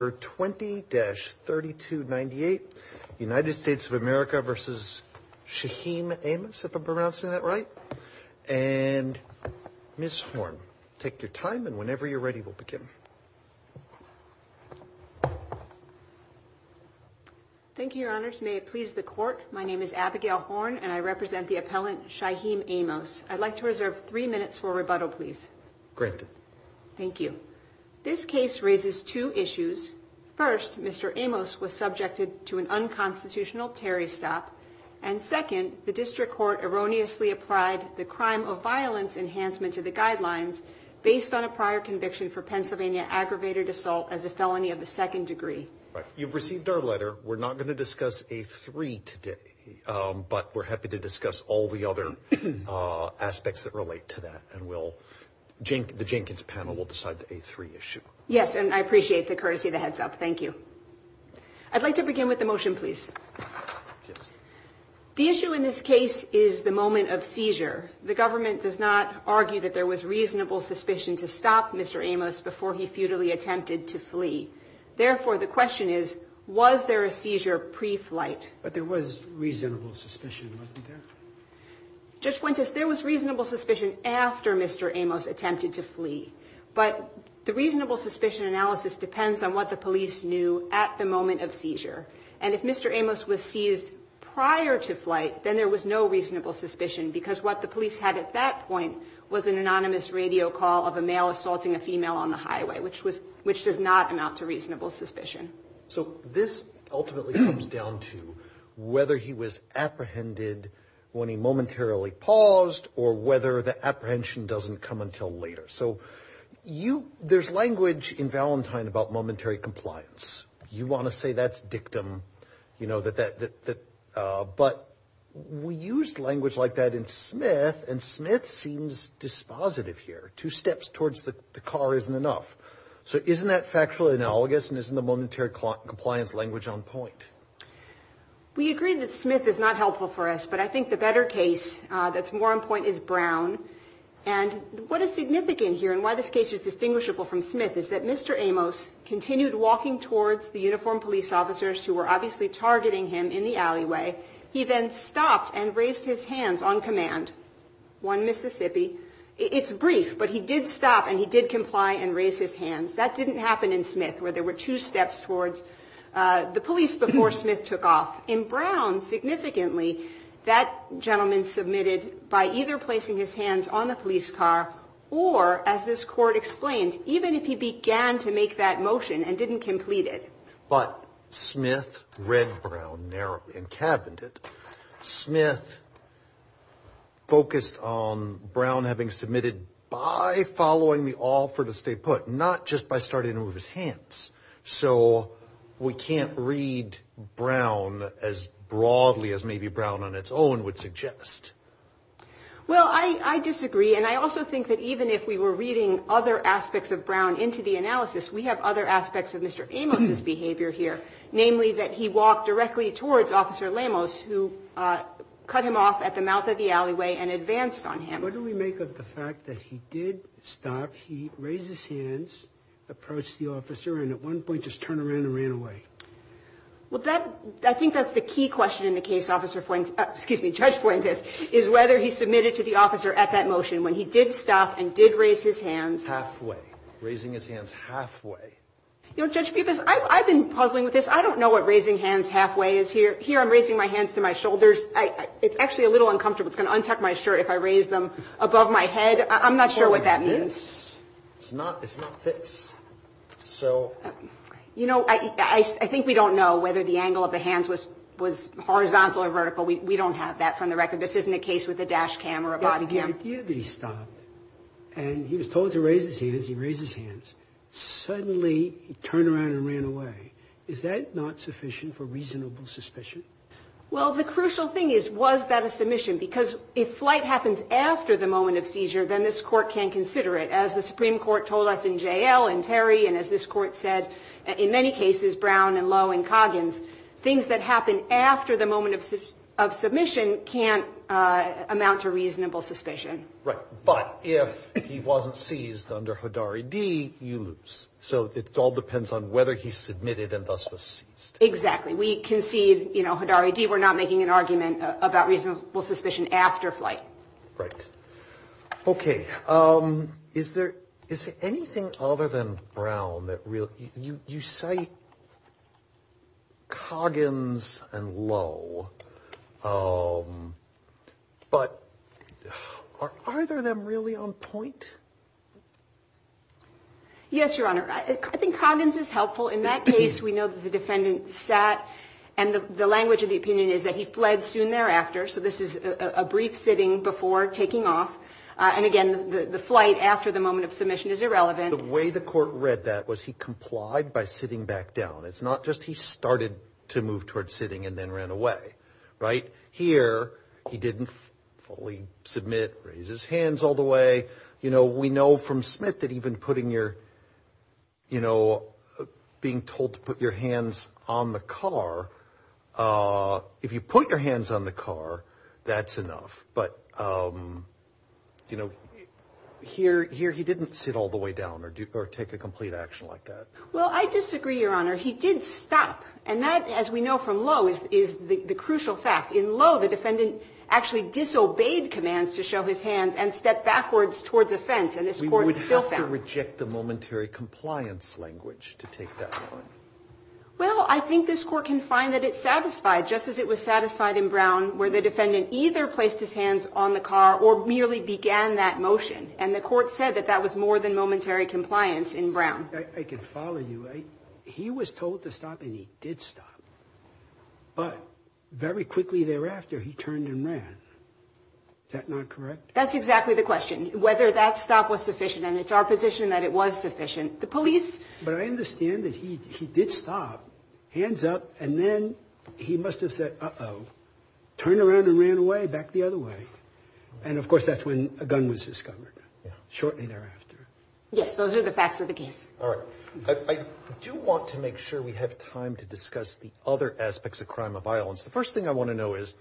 20-3298 United States of America v. Shiheem Amos, if I'm pronouncing that right, and Ms. Horn. Take your time, and whenever you're ready, we'll begin. Thank you, Your Honors. May it please the Court, my name is Abigail Horn, and I represent the appellant Shiheem Amos. I'd like to reserve three minutes for a rebuttal, please. Granted. Thank you. This case raises two issues. First, Mr. Amos was subjected to an unconstitutional Terry stop, and second, the district court erroneously applied the crime of violence enhancement to the guidelines based on a prior conviction for Pennsylvania aggravated assault as a felony of the second degree. You've received our letter. We're not going to discuss A3 today, but we're happy to discuss all the other aspects that relate to that, and the Jenkins panel will decide the A3 issue. Yes, and I appreciate the courtesy of the heads up. Thank you. I'd like to begin with the motion, please. The issue in this case is the moment of seizure. The government does not argue that there was reasonable suspicion to stop Mr. Amos before he futilely attempted to flee. Therefore, the question is, was there a seizure pre-flight? But there was reasonable suspicion, wasn't there? Judge Fuentes, there was reasonable suspicion after Mr. Amos attempted to flee, but the reasonable suspicion analysis depends on what the police knew at the moment of seizure. And if Mr. Amos was seized prior to flight, then there was no reasonable suspicion because what the police had at that point was an anonymous radio call of a male assaulting a female on the highway, which does not amount to reasonable suspicion. So this ultimately comes down to whether he was apprehended when he momentarily paused or whether the apprehension doesn't come until later. So there's language in Valentine about momentary compliance. You want to say that's dictum, you know, but we use language like that in Smith, and Smith seems dispositive here. Two steps towards the car isn't enough. So isn't that factually analogous and isn't the momentary compliance language on point? We agree that Smith is not helpful for us, but I think the better case that's more on point is Brown. And what is significant here and why this case is distinguishable from Smith is that Mr. Amos continued walking towards the uniformed police officers who were obviously targeting him in the alleyway. He then stopped and raised his hands on command. One Mississippi. It's brief, but he did stop and he did comply and raise his hands. That didn't happen in Smith, where there were two steps towards the police before Smith took off. In Brown, significantly, that gentleman submitted by either placing his hands on the police car or, as this court explained, even if he began to make that motion and didn't complete it. But Smith read Brown narrowly and cabined it. Smith focused on Brown having submitted by following the offer to stay put, not just by starting to move his hands. So we can't read Brown as broadly as maybe Brown on its own would suggest. Well, I disagree, and I also think that even if we were reading other aspects of Brown into the analysis, we have other aspects of Mr. Amos's behavior here, namely that he walked directly towards Officer Lamos, who cut him off at the mouth of the alleyway and advanced on him. What do we make of the fact that he did stop? He raised his hands, approached the officer, and at one point just turned around and ran away. Well, I think that's the key question in the case, Judge Fuentes, is whether he submitted to the officer at that motion when he did stop and did raise his hands. Halfway, raising his hands halfway. You know, Judge Pupis, I've been puzzling with this. I don't know what raising hands halfway is here. Here I'm raising my hands to my shoulders. It's actually a little uncomfortable. It's going to untuck my shirt if I raise them above my head. I'm not sure what that means. Or this. It's not this. You know, I think we don't know whether the angle of the hands was horizontal or vertical. We don't have that from the record. This isn't a case with a dash cam or a body cam. The idea that he stopped and he was told to raise his hands, he raised his hands. Suddenly, he turned around and ran away. Is that not sufficient for reasonable suspicion? Well, the crucial thing is, was that a submission? Because if flight happens after the moment of seizure, then this Court can consider it. As the Supreme Court told us in J.L. and Terry, and as this Court said in many cases, Brown and Lowe and Coggins, things that happen after the moment of submission can't amount to reasonable suspicion. Right. But if he wasn't seized under Hidari D., you lose. So it all depends on whether he submitted and thus was seized. Exactly. We concede, you know, Hidari D., we're not making an argument about reasonable suspicion after flight. Right. Okay. Is there anything other than Brown that you cite Coggins and Lowe, but are either of them really on point? Yes, Your Honor. I think Coggins is helpful. In that case, we know that the defendant sat, and the language of the opinion is that he fled soon thereafter. So this is a brief sitting before taking off. And, again, the flight after the moment of submission is irrelevant. The way the Court read that was he complied by sitting back down. It's not just he started to move toward sitting and then ran away. Right. Here, he didn't fully submit, raise his hands all the way. You know, we know from Smith that even putting your, you know, being told to put your hands on the car, if you put your hands on the car, that's enough. But, you know, here he didn't sit all the way down or take a complete action like that. Well, I disagree, Your Honor. He did stop. And that, as we know from Lowe, is the crucial fact. In Lowe, the defendant actually disobeyed commands to show his hands and stepped backwards towards a fence. And this Court still found. We would have to reject the momentary compliance language to take that one. Well, I think this Court can find that it satisfied, just as it was satisfied in Brown, where the defendant either placed his hands on the car or merely began that motion. And the Court said that that was more than momentary compliance in Brown. I can follow you. He was told to stop, and he did stop. But very quickly thereafter, he turned and ran. Is that not correct? That's exactly the question, whether that stop was sufficient. And it's our position that it was sufficient. But I understand that he did stop, hands up, and then he must have said, uh-oh, turned around and ran away, back the other way. And, of course, that's when a gun was discovered shortly thereafter. Yes, those are the facts of the case. All right. I do want to make sure we have time to discuss the other aspects of crime of violence. The first thing I want to know is,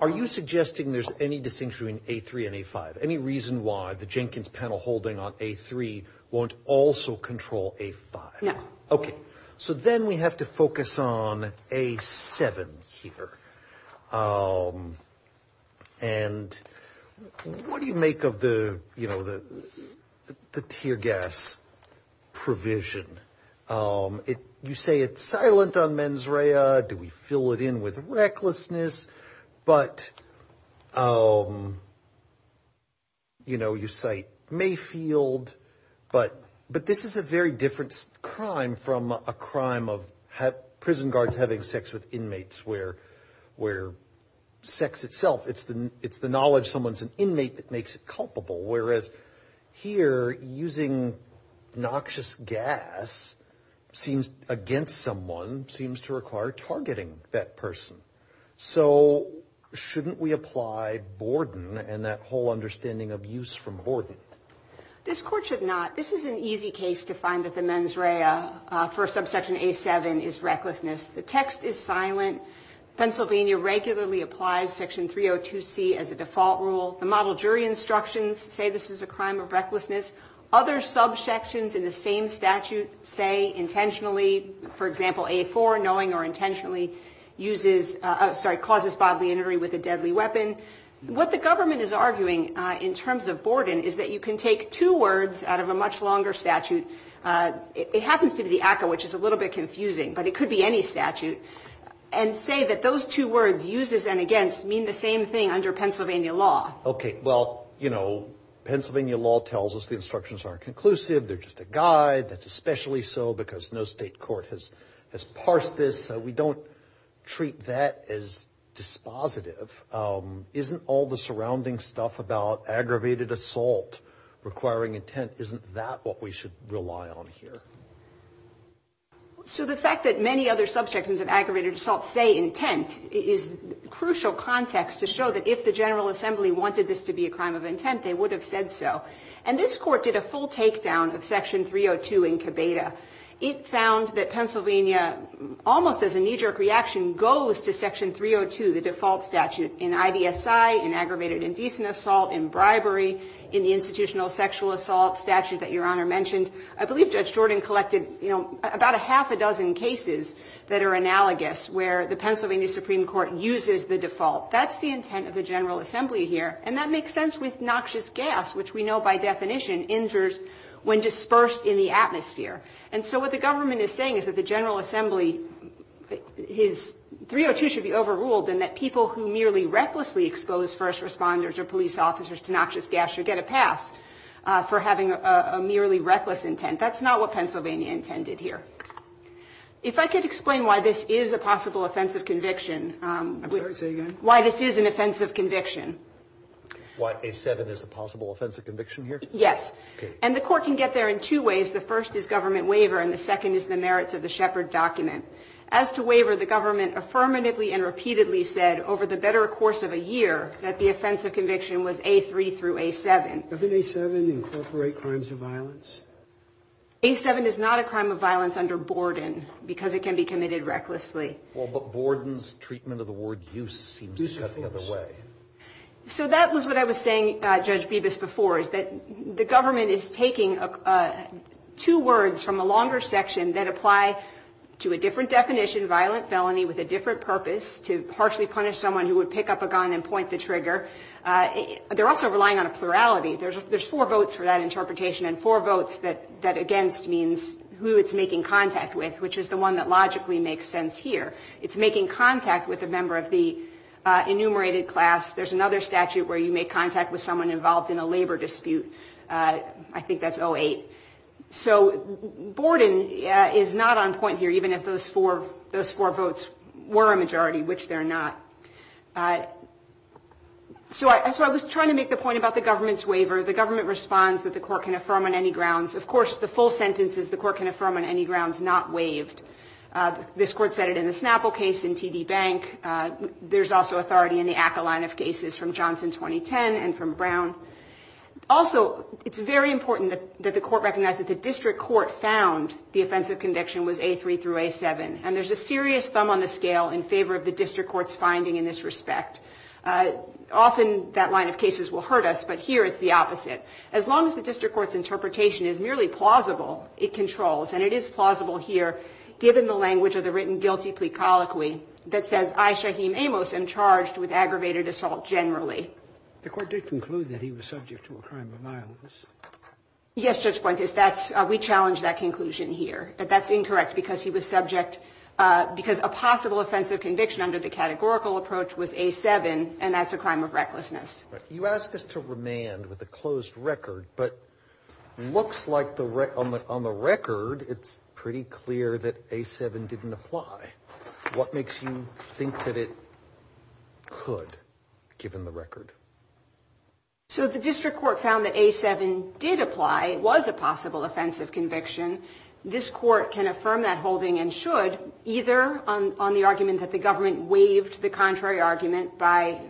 are you suggesting there's any distinction between A3 and A5? Any reason why the Jenkins panel holding on A3 won't also control A5? No. Okay. So then we have to focus on A7 here. And what do you make of the tear gas provision? You say it's silent on mens rea. Do we fill it in with recklessness? But, you know, you cite Mayfield. But this is a very different crime from a crime of prison guards having sex with inmates, where sex itself, it's the knowledge someone's an inmate that makes it culpable. Whereas here, using noxious gas against someone seems to require targeting that person. So shouldn't we apply Borden and that whole understanding of use from Borden? This Court should not. This is an easy case to find that the mens rea for subsection A7 is recklessness. The text is silent. Pennsylvania regularly applies section 302C as a default rule. The model jury instructions say this is a crime of recklessness. Other subsections in the same statute say intentionally, for example, A4, knowing or intentionally causes bodily injury with a deadly weapon. What the government is arguing in terms of Borden is that you can take two words out of a much longer statute. It happens to be the ACCA, which is a little bit confusing. But it could be any statute. And say that those two words, uses and against, mean the same thing under Pennsylvania law. Okay. Well, you know, Pennsylvania law tells us the instructions aren't conclusive. They're just a guide. That's especially so because no state court has parsed this. So we don't treat that as dispositive. Isn't all the surrounding stuff about aggravated assault requiring intent, isn't that what we should rely on here? So the fact that many other subsections of aggravated assault say intent is crucial context to show that if the General Assembly wanted this to be a crime of intent, they would have said so. And this court did a full takedown of section 302 in Cabeda. It found that Pennsylvania, almost as a knee-jerk reaction, goes to section 302, the default statute, in IVSI, in aggravated indecent assault, in bribery, in the institutional sexual assault statute that Your Honor mentioned. I believe Judge Jordan collected, you know, about a half a dozen cases that are analogous where the Pennsylvania Supreme Court uses the default. That's the intent of the General Assembly here. And that makes sense with noxious gas, which we know by definition injures when dispersed in the atmosphere. And so what the government is saying is that the General Assembly, his 302 should be overruled and that people who merely recklessly expose first responders or police officers to noxious gas should get a pass for having a merely reckless intent. That's not what Pennsylvania intended here. If I could explain why this is a possible offensive conviction. I'm sorry, say again. Why this is an offensive conviction. Why A7 is a possible offensive conviction here? Yes. Okay. And the court can get there in two ways. The first is government waiver and the second is the merits of the Shepard document. As to waiver, the government affirmatively and repeatedly said over the better course of a year that the offensive conviction was A3 through A7. Doesn't A7 incorporate crimes of violence? A7 is not a crime of violence under Borden because it can be committed recklessly. Well, but Borden's treatment of the word use seems to cut the other way. So that was what I was saying, Judge Bibas, before is that the government is taking two words from a longer section that apply to a different definition, violent felony with a different purpose, to harshly punish someone who would pick up a gun and point the trigger. They're also relying on a plurality. There's four votes for that interpretation and four votes that against means who it's making contact with, which is the one that logically makes sense here. It's making contact with a member of the enumerated class. There's another statute where you make contact with someone involved in a labor dispute. I think that's 08. So Borden is not on point here, even if those four votes were a majority, which they're not. So I was trying to make the point about the government's waiver. The government responds that the court can affirm on any grounds. Of course, the full sentence is the court can affirm on any grounds not waived. This court said it in the Snapple case, in TD Bank. There's also authority in the ACA line of cases from Johnson 2010 and from Brown. Also, it's very important that the court recognize that the district court found the offensive conviction was A3 through A7, and there's a serious thumb on the scale in favor of the district court's finding in this respect. Often that line of cases will hurt us, but here it's the opposite. As long as the district court's interpretation is merely plausible, it controls, and it is plausible here, given the language of the written guilty plea colloquy that says I, Shaheem Amos, am charged with aggravated assault generally. The court did conclude that he was subject to a crime of violence. Yes, Judge Pointis, that's we challenged that conclusion here, that that's incorrect because he was subject because a possible offensive conviction under the categorical approach was A7, and that's a crime of recklessness. You ask us to remand with a closed record, but looks like on the record it's pretty clear that A7 didn't apply. What makes you think that it could, given the record? So the district court found that A7 did apply. It was a possible offensive conviction. This court can affirm that holding and should, either on the argument that the government waived the contrary argument by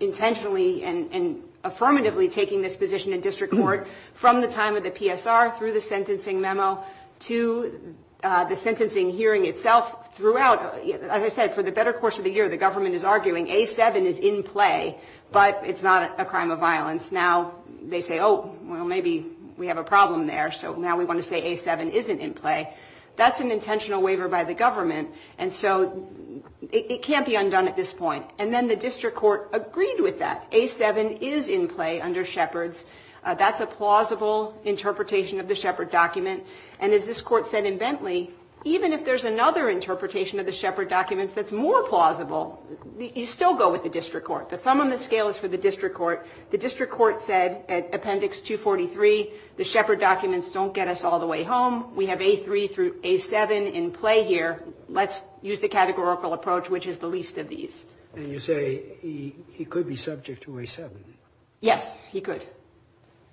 intentionally and affirmatively taking this position in district court from the time of the PSR through the sentencing memo to the sentencing hearing itself throughout. As I said, for the better course of the year, the government is arguing A7 is in play, but it's not a crime of violence. Now they say, oh, well, maybe we have a problem there, so now we want to say A7 isn't in play. That's an intentional waiver by the government, and so it can't be undone at this point. And then the district court agreed with that. A7 is in play under Shepard's. That's a plausible interpretation of the Shepard document. And as this court said in Bentley, even if there's another interpretation of the Shepard documents that's more plausible, you still go with the district court. The thumb on the scale is for the district court. The district court said at Appendix 243, the Shepard documents don't get us all the way home. We have A3 through A7 in play here. Let's use the categorical approach, which is the least of these. And you say he could be subject to A7. Yes, he could.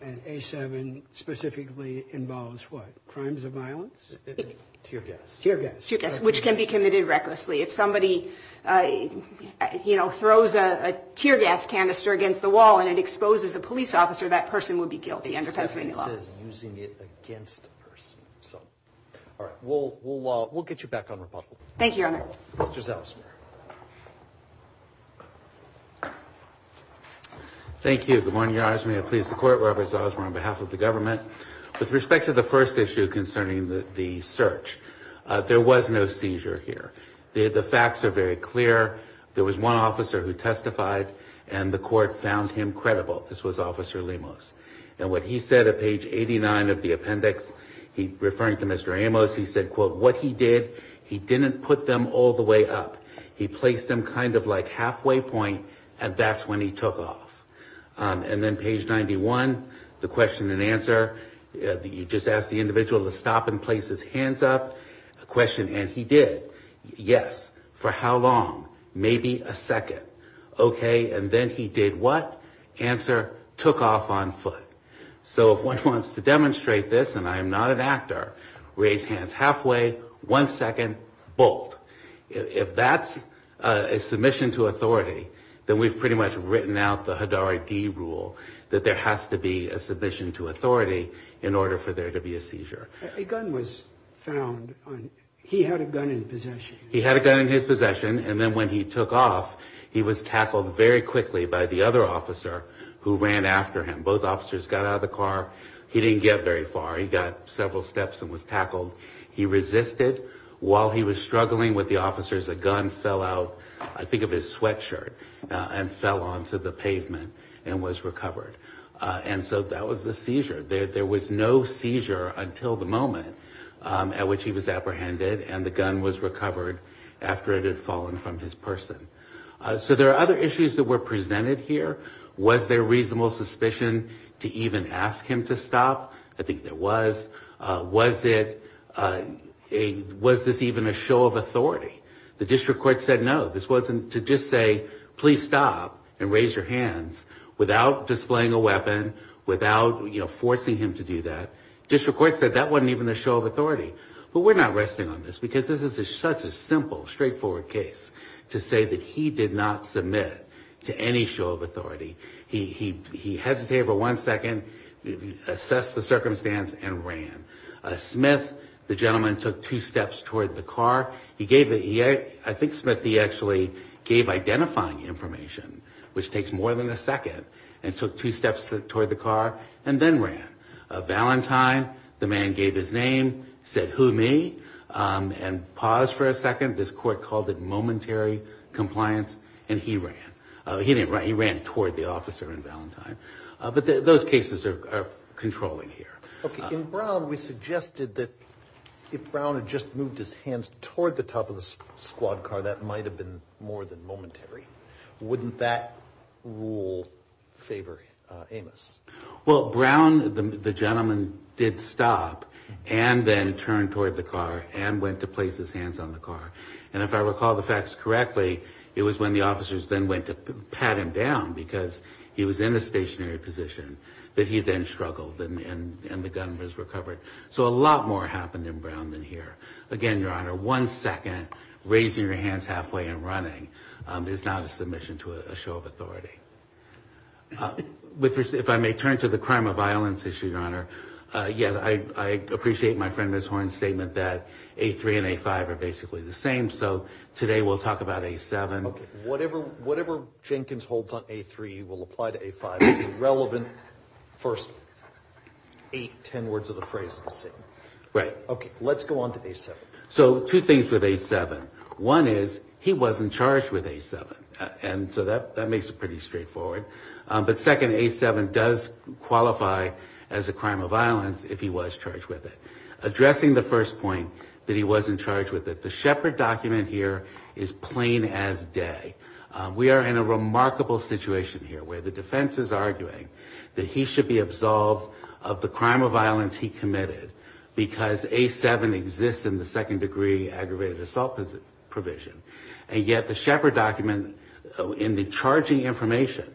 And A7 specifically involves what? Crimes of violence? Tear gas. Tear gas, which can be committed recklessly. If somebody, you know, throws a tear gas canister against the wall and it exposes a police officer, that person would be guilty under Pennsylvania law. Using it against a person. All right. We'll get you back on rebuttal. Thank you, Your Honor. Mr. Zelzmer. Thank you. Good morning, Your Honor. May it please the Court, Robert Zelzmer on behalf of the government. With respect to the first issue concerning the search, there was no seizure here. The facts are very clear. There was one officer who testified, and the Court found him credible. This was Officer Lemos. And what he said at page 89 of the appendix, referring to Mr. Amos, he said, quote, what he did, he didn't put them all the way up. He placed them kind of like halfway point, and that's when he took off. And then page 91, the question and answer, you just ask the individual to stop and place his hands up. A question, and he did. Yes. For how long? Maybe a second. Okay. And then he did what? Answer, took off on foot. So if one wants to demonstrate this, and I am not an actor, raise hands halfway, one second, bolt. If that's a submission to authority, then we've pretty much written out the Hidari D rule, that there has to be a submission to authority in order for there to be a seizure. A gun was found. He had a gun in possession. He had a gun in his possession, and then when he took off, he was tackled very quickly by the other officer who ran after him. Both officers got out of the car. He didn't get very far. He got several steps and was tackled. He resisted. While he was struggling with the officers, a gun fell out, I think of his sweatshirt, and fell onto the pavement and was recovered. And so that was the seizure. There was no seizure until the moment at which he was apprehended, and the gun was recovered after it had fallen from his person. So there are other issues that were presented here. Was there reasonable suspicion to even ask him to stop? I think there was. Was this even a show of authority? The district court said no. This wasn't to just say, please stop and raise your hands, without displaying a weapon, without forcing him to do that. The district court said that wasn't even a show of authority. But we're not resting on this because this is such a simple, straightforward case to say that he did not submit to any show of authority. He hesitated for one second, assessed the circumstance, and ran. Smith, the gentleman, took two steps toward the car. I think Smith, he actually gave identifying information, which takes more than a second, and took two steps toward the car and then ran. Valentine, the man gave his name, said, who me, and paused for a second. This court called it momentary compliance, and he ran. He didn't run. He ran toward the officer in Valentine. But those cases are controlling here. Okay. In Brown, we suggested that if Brown had just moved his hands toward the top of the squad car, that might have been more than momentary. Wouldn't that rule favor Amos? Well, Brown, the gentleman, did stop and then turn toward the car and went to place his hands on the car. And if I recall the facts correctly, it was when the officers then went to pat him down because he was in a stationary position that he then struggled and the gun was recovered. So a lot more happened in Brown than here. Again, Your Honor, one second, raising your hands halfway and running is not a submission to a show of authority. If I may turn to the crime of violence issue, Your Honor, I appreciate my friend Ms. Horn's statement that A3 and A5 are basically the same. So today we'll talk about A7. Okay. Whatever Jenkins holds on A3 will apply to A5. The relevant first eight, ten words of the phrase are the same. Right. Okay. Let's go on to A7. So two things with A7. One is he wasn't charged with A7, and so that makes it pretty straightforward. But second, A7 does qualify as a crime of violence if he was charged with it. Addressing the first point that he wasn't charged with it, the Shepard document here is plain as day. We are in a remarkable situation here where the defense is arguing that he should be absolved of the crime of violence he committed because A7 exists in the second degree aggravated assault provision. And yet the Shepard document in the charging information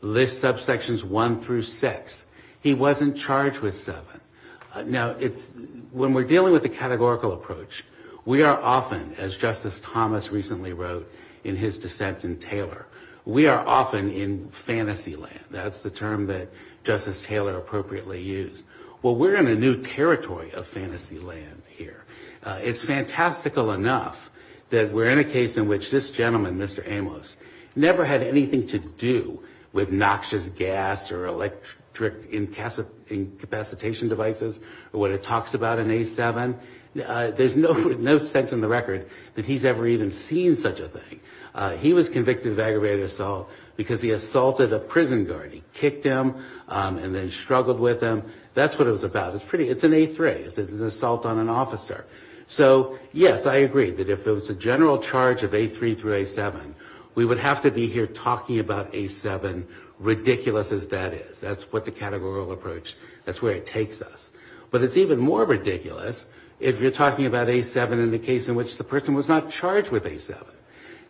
lists subsections one through six. He wasn't charged with seven. Now, when we're dealing with a categorical approach, we are often, as Justice Thomas recently wrote in his dissent in Taylor, we are often in fantasy land. That's the term that Justice Taylor appropriately used. Well, we're in a new territory of fantasy land here. It's fantastical enough that we're in a case in which this gentleman, Mr. Amos, never had anything to do with noxious gas or electric incapacitation devices or what it talks about in A7. There's no sense in the record that he's ever even seen such a thing. He was convicted of aggravated assault because he assaulted a prison guard. He kicked him and then struggled with him. That's what it was about. It's an A3. It's an assault on an officer. So, yes, I agree that if it was a general charge of A3 through A7, we would have to be here talking about A7, ridiculous as that is. That's what the categorical approach, that's where it takes us. But it's even more ridiculous if you're talking about A7 in the case in which the person was not charged with A7.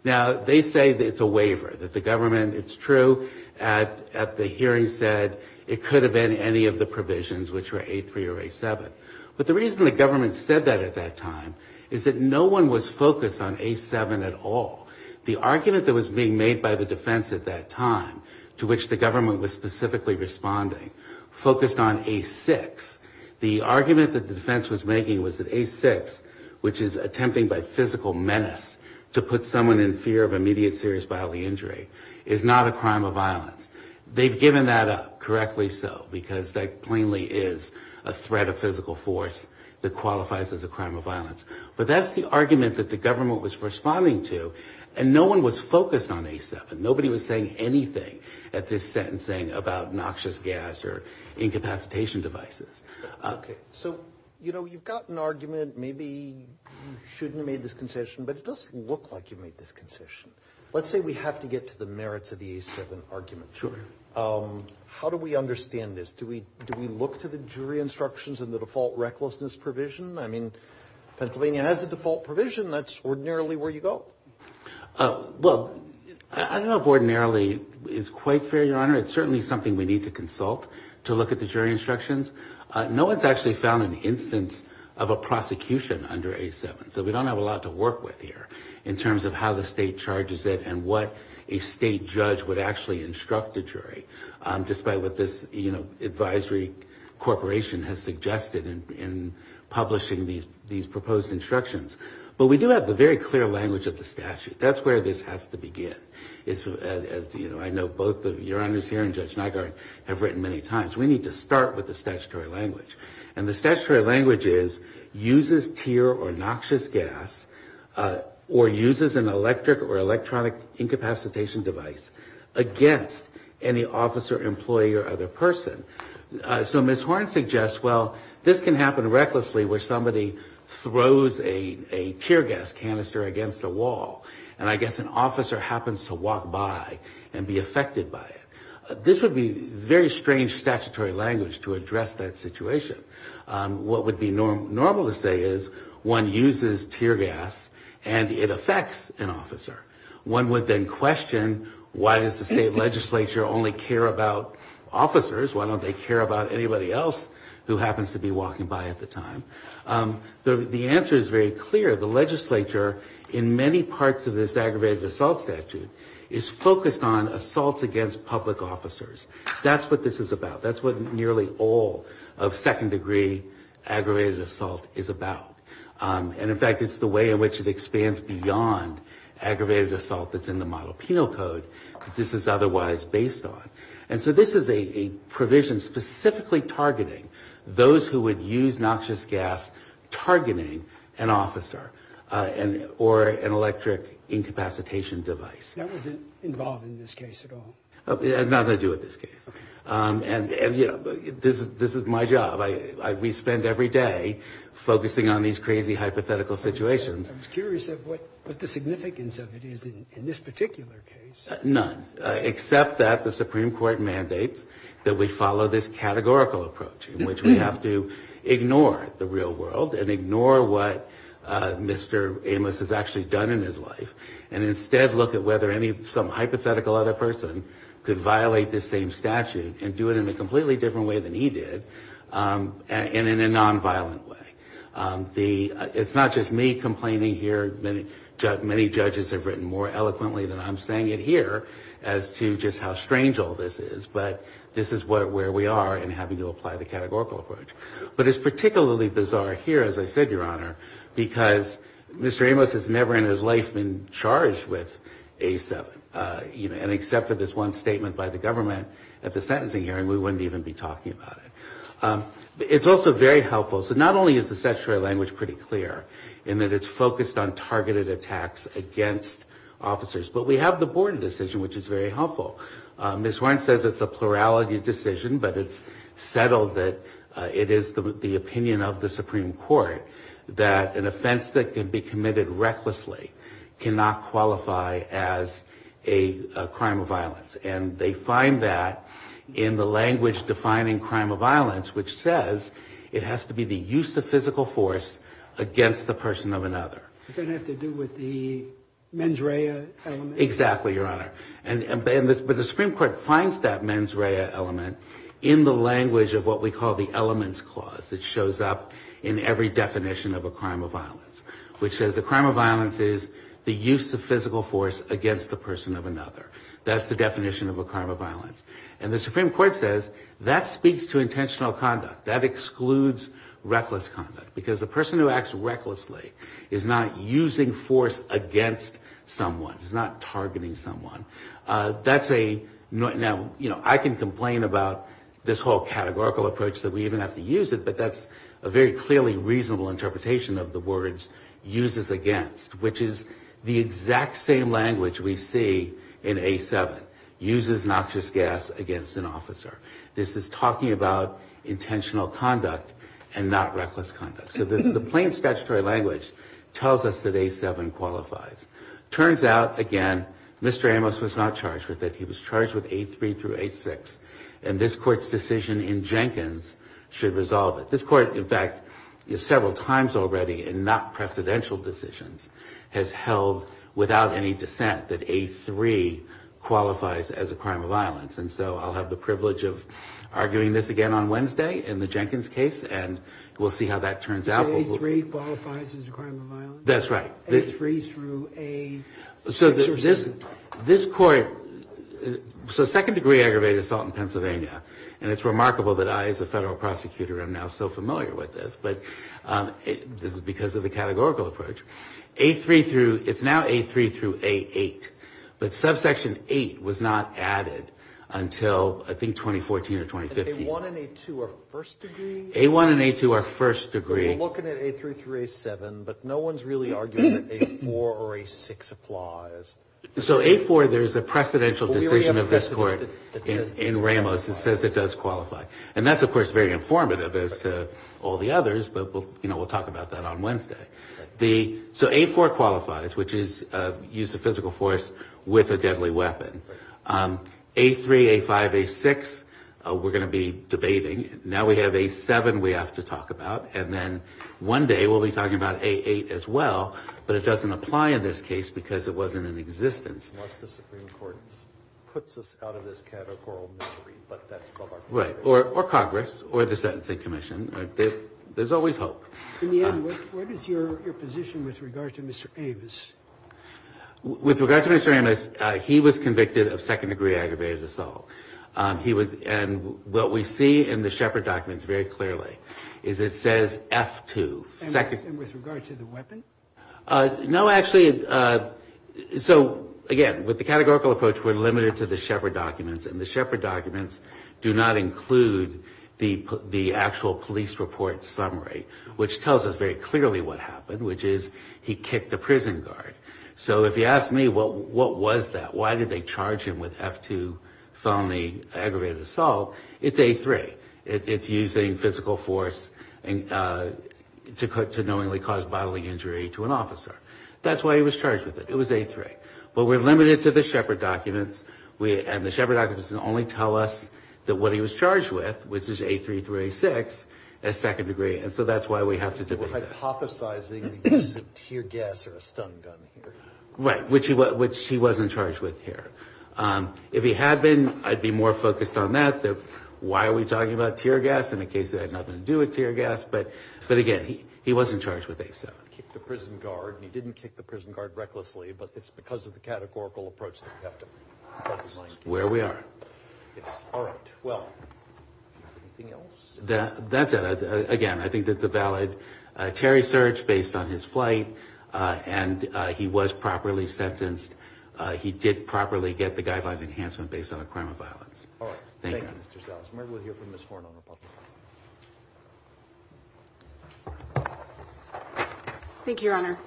Now, they say that it's a waiver, that the government, it's true, at the hearing said it could have been any of the provisions, which were A3 or A7. But the reason the government said that at that time is that no one was focused on A7 at all. The argument that was being made by the defense at that time, to which the government was specifically responding, focused on A6. The argument that the defense was making was that A6, which is attempting by physical menace to put someone in fear of immediate serious bodily injury, is not a crime of violence. They've given that up, correctly so, because that plainly is a threat of physical force that qualifies as a crime of violence. But that's the argument that the government was responding to, and no one was focused on A7. Nobody was saying anything at this sentencing about noxious gas or incapacitation devices. Okay. So, you know, you've got an argument. Maybe you shouldn't have made this concession, but it doesn't look like you made this concession. Let's say we have to get to the merits of the A7 argument. Sure. How do we understand this? Do we look to the jury instructions and the default recklessness provision? I mean, Pennsylvania has a default provision. That's ordinarily where you go. Well, I don't know if ordinarily is quite fair, Your Honor. It's certainly something we need to consult to look at the jury instructions. No one's actually found an instance of a prosecution under A7, so we don't have a lot to work with here in terms of how the state charges it and what a state judge would actually instruct the jury, despite what this advisory corporation has suggested in publishing these proposed instructions. But we do have the very clear language of the statute. That's where this has to begin. As I know both Your Honors here and Judge Nygaard have written many times, we need to start with the statutory language. And the statutory language is, uses tear or noxious gas or uses an electric or electronic incapacitation device against any officer, employee, or other person. So Ms. Horne suggests, well, this can happen recklessly where somebody throws a tear gas canister against a wall, and I guess an officer happens to walk by and be affected by it. This would be very strange statutory language to address that situation. What would be normal to say is, one uses tear gas and it affects an officer. One would then question, why does the state legislature only care about officers? Why don't they care about anybody else who happens to be walking by at the time? The answer is very clear. The legislature, in many parts of this aggravated assault statute, is focused on assaults against public officers. That's what this is about. That's what nearly all of second-degree aggravated assault is about. And, in fact, it's the way in which it expands beyond aggravated assault that's in the Model Penal Code that this is otherwise based on. And so this is a provision specifically targeting those who would use noxious gas targeting an officer or an electric incapacitation device. That wasn't involved in this case at all? Not that I do with this case. And, you know, this is my job. We spend every day focusing on these crazy hypothetical situations. I was curious of what the significance of it is in this particular case. None, except that the Supreme Court mandates that we follow this categorical approach in which we have to ignore the real world and ignore what Mr. Amos has actually done in his life and instead look at whether some hypothetical other person could violate this same statute and do it in a completely different way than he did and in a nonviolent way. It's not just me complaining here. Many judges have written more eloquently than I'm saying it here as to just how strange all this is. But this is where we are in having to apply the categorical approach. But it's particularly bizarre here, as I said, Your Honor, because Mr. Amos has never in his life been charged with A7. And except for this one statement by the government at the sentencing hearing, we wouldn't even be talking about it. It's also very helpful. So not only is the statutory language pretty clear in that it's focused on targeted attacks against officers, but we have the Borden decision, which is very helpful. Ms. Warren says it's a plurality decision, but it's settled that it is the opinion of the Supreme Court that an offense that can be committed recklessly cannot qualify as a crime of violence. And they find that in the language defining crime of violence, which says it has to be the use of physical force against the person of another. Does that have to do with the mens rea element? Exactly, Your Honor. But the Supreme Court finds that mens rea element in the language of what we call the elements clause that shows up in every definition of a crime of violence, which says a crime of violence is the use of physical force That's the definition of a crime of violence. And the Supreme Court says that speaks to intentional conduct. That excludes reckless conduct, because the person who acts recklessly is not using force against someone. He's not targeting someone. Now, I can complain about this whole categorical approach that we even have to use it, but that's a very clearly reasonable interpretation of the words uses against, which is the exact same language we see in A7. Uses noxious gas against an officer. This is talking about intentional conduct and not reckless conduct. So the plain statutory language tells us that A7 qualifies. Turns out, again, Mr. Amos was not charged with it. He was charged with A3 through A6. And this Court's decision in Jenkins should resolve it. This Court, in fact, is several times already in not-precedential decisions, has held, without any dissent, that A3 qualifies as a crime of violence. And so I'll have the privilege of arguing this again on Wednesday in the Jenkins case, and we'll see how that turns out. So A3 qualifies as a crime of violence? That's right. So second-degree aggravated assault in Pennsylvania. And it's remarkable that I, as a federal prosecutor, am now so familiar with this, but this is because of the categorical approach. It's now A3 through A8, but subsection 8 was not added until, I think, 2014 or 2015. A1 and A2 are first-degree? A1 and A2 are first-degree. We're looking at A3 through A7, but no one's really arguing that A4 or A6 applies. So A4, there's a precedential decision of this Court in Ramos that says it does qualify. And that's, of course, very informative as to all the others, but we'll talk about that on Wednesday. So A4 qualifies, which is use of physical force with a deadly weapon. A3, A5, A6, we're going to be debating. Now we have A7 we have to talk about, and then one day we'll be talking about A8 as well, but it doesn't apply in this case because it wasn't in existence. Unless the Supreme Court puts us out of this categorical misery, but that's above our comprehension. Right, or Congress or the Sentencing Commission. There's always hope. In the end, what is your position with regard to Mr. Amos? With regard to Mr. Amos, he was convicted of second-degree aggravated assault. And what we see in the Shepard documents very clearly is it says F2. And with regard to the weapon? No, actually, so again, with the categorical approach, we're limited to the Shepard documents, and the Shepard documents do not include the actual police report summary, which tells us very clearly what happened, which is he kicked a prison guard. So if you ask me what was that, why did they charge him with F2 felony aggravated assault, it's A3. It's using physical force to knowingly cause bodily injury to an officer. That's why he was charged with it. It was A3. But we're limited to the Shepard documents, and the Shepard documents only tell us what he was charged with, which is A3 through A6, as second-degree. And so that's why we have to divide that. Hypothesizing he was a tear gas or a stun gun here. Right, which he wasn't charged with here. If he had been, I'd be more focused on that. Why are we talking about tear gas in the case that had nothing to do with tear gas? But again, he wasn't charged with A7. He kicked the prison guard, and he didn't kick the prison guard recklessly, but it's because of the categorical approach that we have to... That's where we are. All right, well, anything else? That's it. Again, I think that's a valid Terry search based on his flight, and he was properly sentenced. He did properly get the guideline of enhancement based on a crime of violence. All right. Thank you, Mr. Sellers. Maybe we'll hear from Ms. Horn on the public side. Thank you, Your Honor.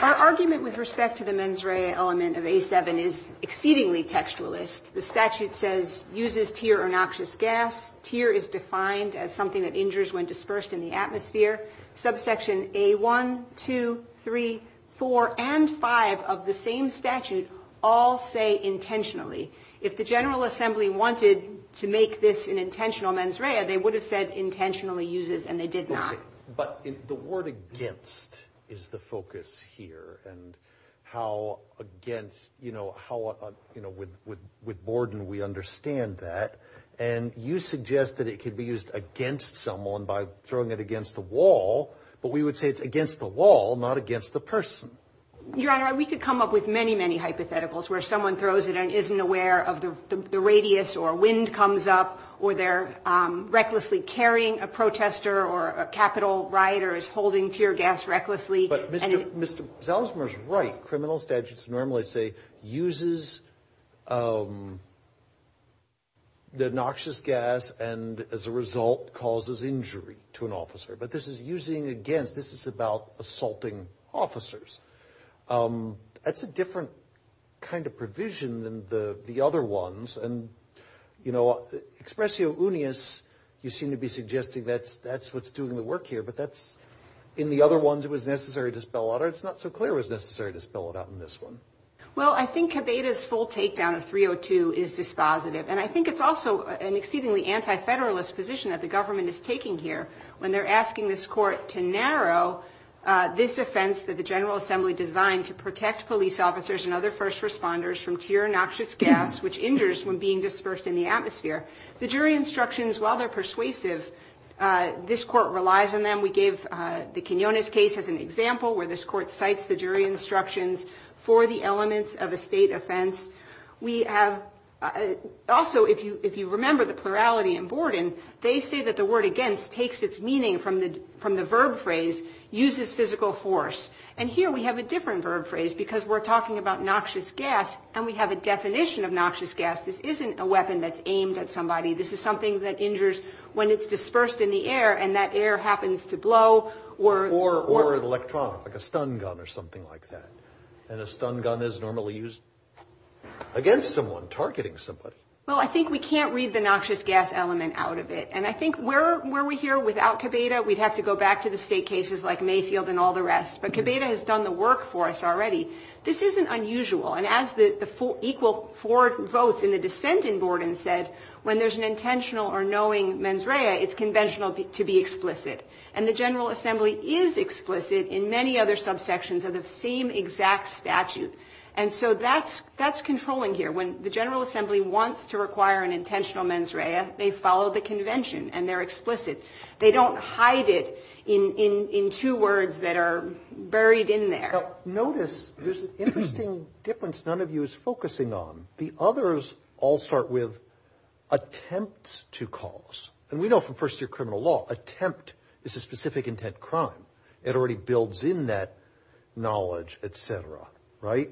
Our argument with respect to the mens rea element of A7 is exceedingly textualist. The statute says, uses tear or noxious gas. Tear is defined as something that injures when dispersed in the atmosphere. Subsection A1, 2, 3, 4, and 5 of the same statute all say intentionally. If the General Assembly wanted to make this an intentional mens rea, they would have said intentionally uses, and they did not. But the word against is the focus here, and how against... With Borden, we understand that, and you suggest that it could be used against someone by throwing it against the wall, but we would say it's against the wall, not against the person. Your Honor, we could come up with many, many hypotheticals where someone throws it and isn't aware of the radius or wind comes up or they're recklessly carrying a protester or a Capitol rioter is holding tear gas recklessly. But Mr. Zelzmer's right. Criminal statutes normally say, uses the noxious gas and, as a result, causes injury to an officer. But this is using against. This is about assaulting officers. That's a different kind of provision than the other ones. And, you know, expressio unius, you seem to be suggesting that's what's doing the work here, but that's in the other ones it was necessary to spell out, or it's not so clear it was necessary to spell it out in this one. Well, I think Cabeda's full takedown of 302 is dispositive, and I think it's also an exceedingly anti-federalist position that the government is taking here when they're asking this court to narrow this offense that the General Assembly designed to protect police officers and other first responders from tear and noxious gas, which injures when being dispersed in the atmosphere. The jury instructions, while they're persuasive, this court relies on them. We gave the Quinones case as an example where this court cites the jury instructions for the elements of a state offense. Also, if you remember the plurality in Borden, they say that the word against takes its meaning from the verb phrase, uses physical force. And here we have a different verb phrase because we're talking about noxious gas, and we have a definition of noxious gas. This isn't a weapon that's aimed at somebody. This is something that injures when it's dispersed in the air, and that air happens to blow. Or an electron, like a stun gun or something like that. And a stun gun is normally used against someone, targeting somebody. Well, I think we can't read the noxious gas element out of it. And I think where we're here without Cabeda, we'd have to go back to the state cases like Mayfield and all the rest. But Cabeda has done the work for us already. This isn't unusual. And as the equal four votes in the dissent in Borden said, when there's an intentional or knowing mens rea, it's conventional to be explicit. And the General Assembly is explicit in many other subsections of the same exact statute. And so that's controlling here. When the General Assembly wants to require an intentional mens rea, they follow the convention and they're explicit. They don't hide it in two words that are buried in there. Notice there's an interesting difference none of you is focusing on. The others all start with attempts to cause. And we know from first-year criminal law, attempt is a specific intent crime. It already builds in that knowledge, et cetera, right?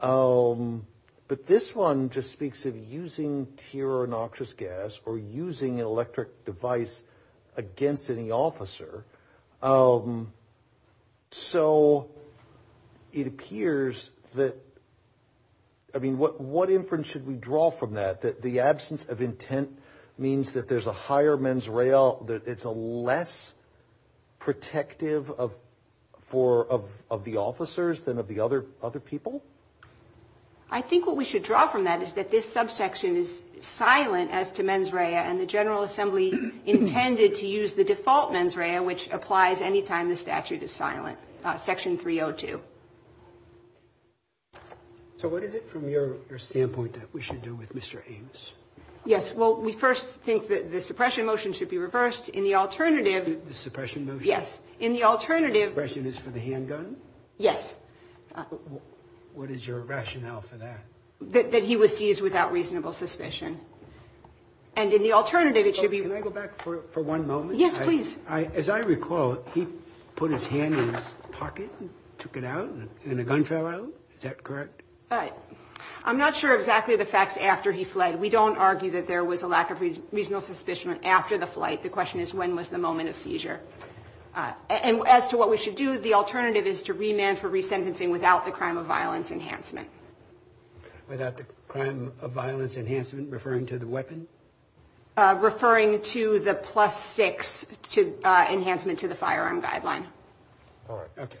But this one just speaks of using tear or noxious gas or using an electric device against any officer. So it appears that, I mean, what inference should we draw from that, that the absence of intent means that there's a higher mens rea, that it's less protective of the officers than of the other people? I think what we should draw from that is that this subsection is silent as to mens rea, and the General Assembly intended to use the default mens rea, which applies any time the statute is silent, section 302. So what is it from your standpoint that we should do with Mr. Ames? Yes, well, we first think that the suppression motion should be reversed. In the alternative... The suppression motion? Yes. In the alternative... Suppression is for the handgun? Yes. What is your rationale for that? That he was seized without reasonable suspicion. And in the alternative, it should be... Can I go back for one moment? Yes, please. As I recall, he put his hand in his pocket, took it out, and the gun fell out? Is that correct? I'm not sure exactly of the facts after he fled. We don't argue that there was a lack of reasonable suspicion after the flight. The question is, when was the moment of seizure? And as to what we should do, the alternative is to remand for resentencing without the crime of violence enhancement. Without the crime of violence enhancement, referring to the weapon? Referring to the plus six enhancement to the firearm guideline. All right. Okay.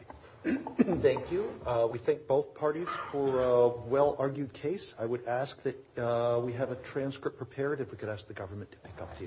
Thank you. We thank both parties for a well-argued case. I would ask that we have a transcript prepared if we could ask the government to pick up the expense of that. Thank you.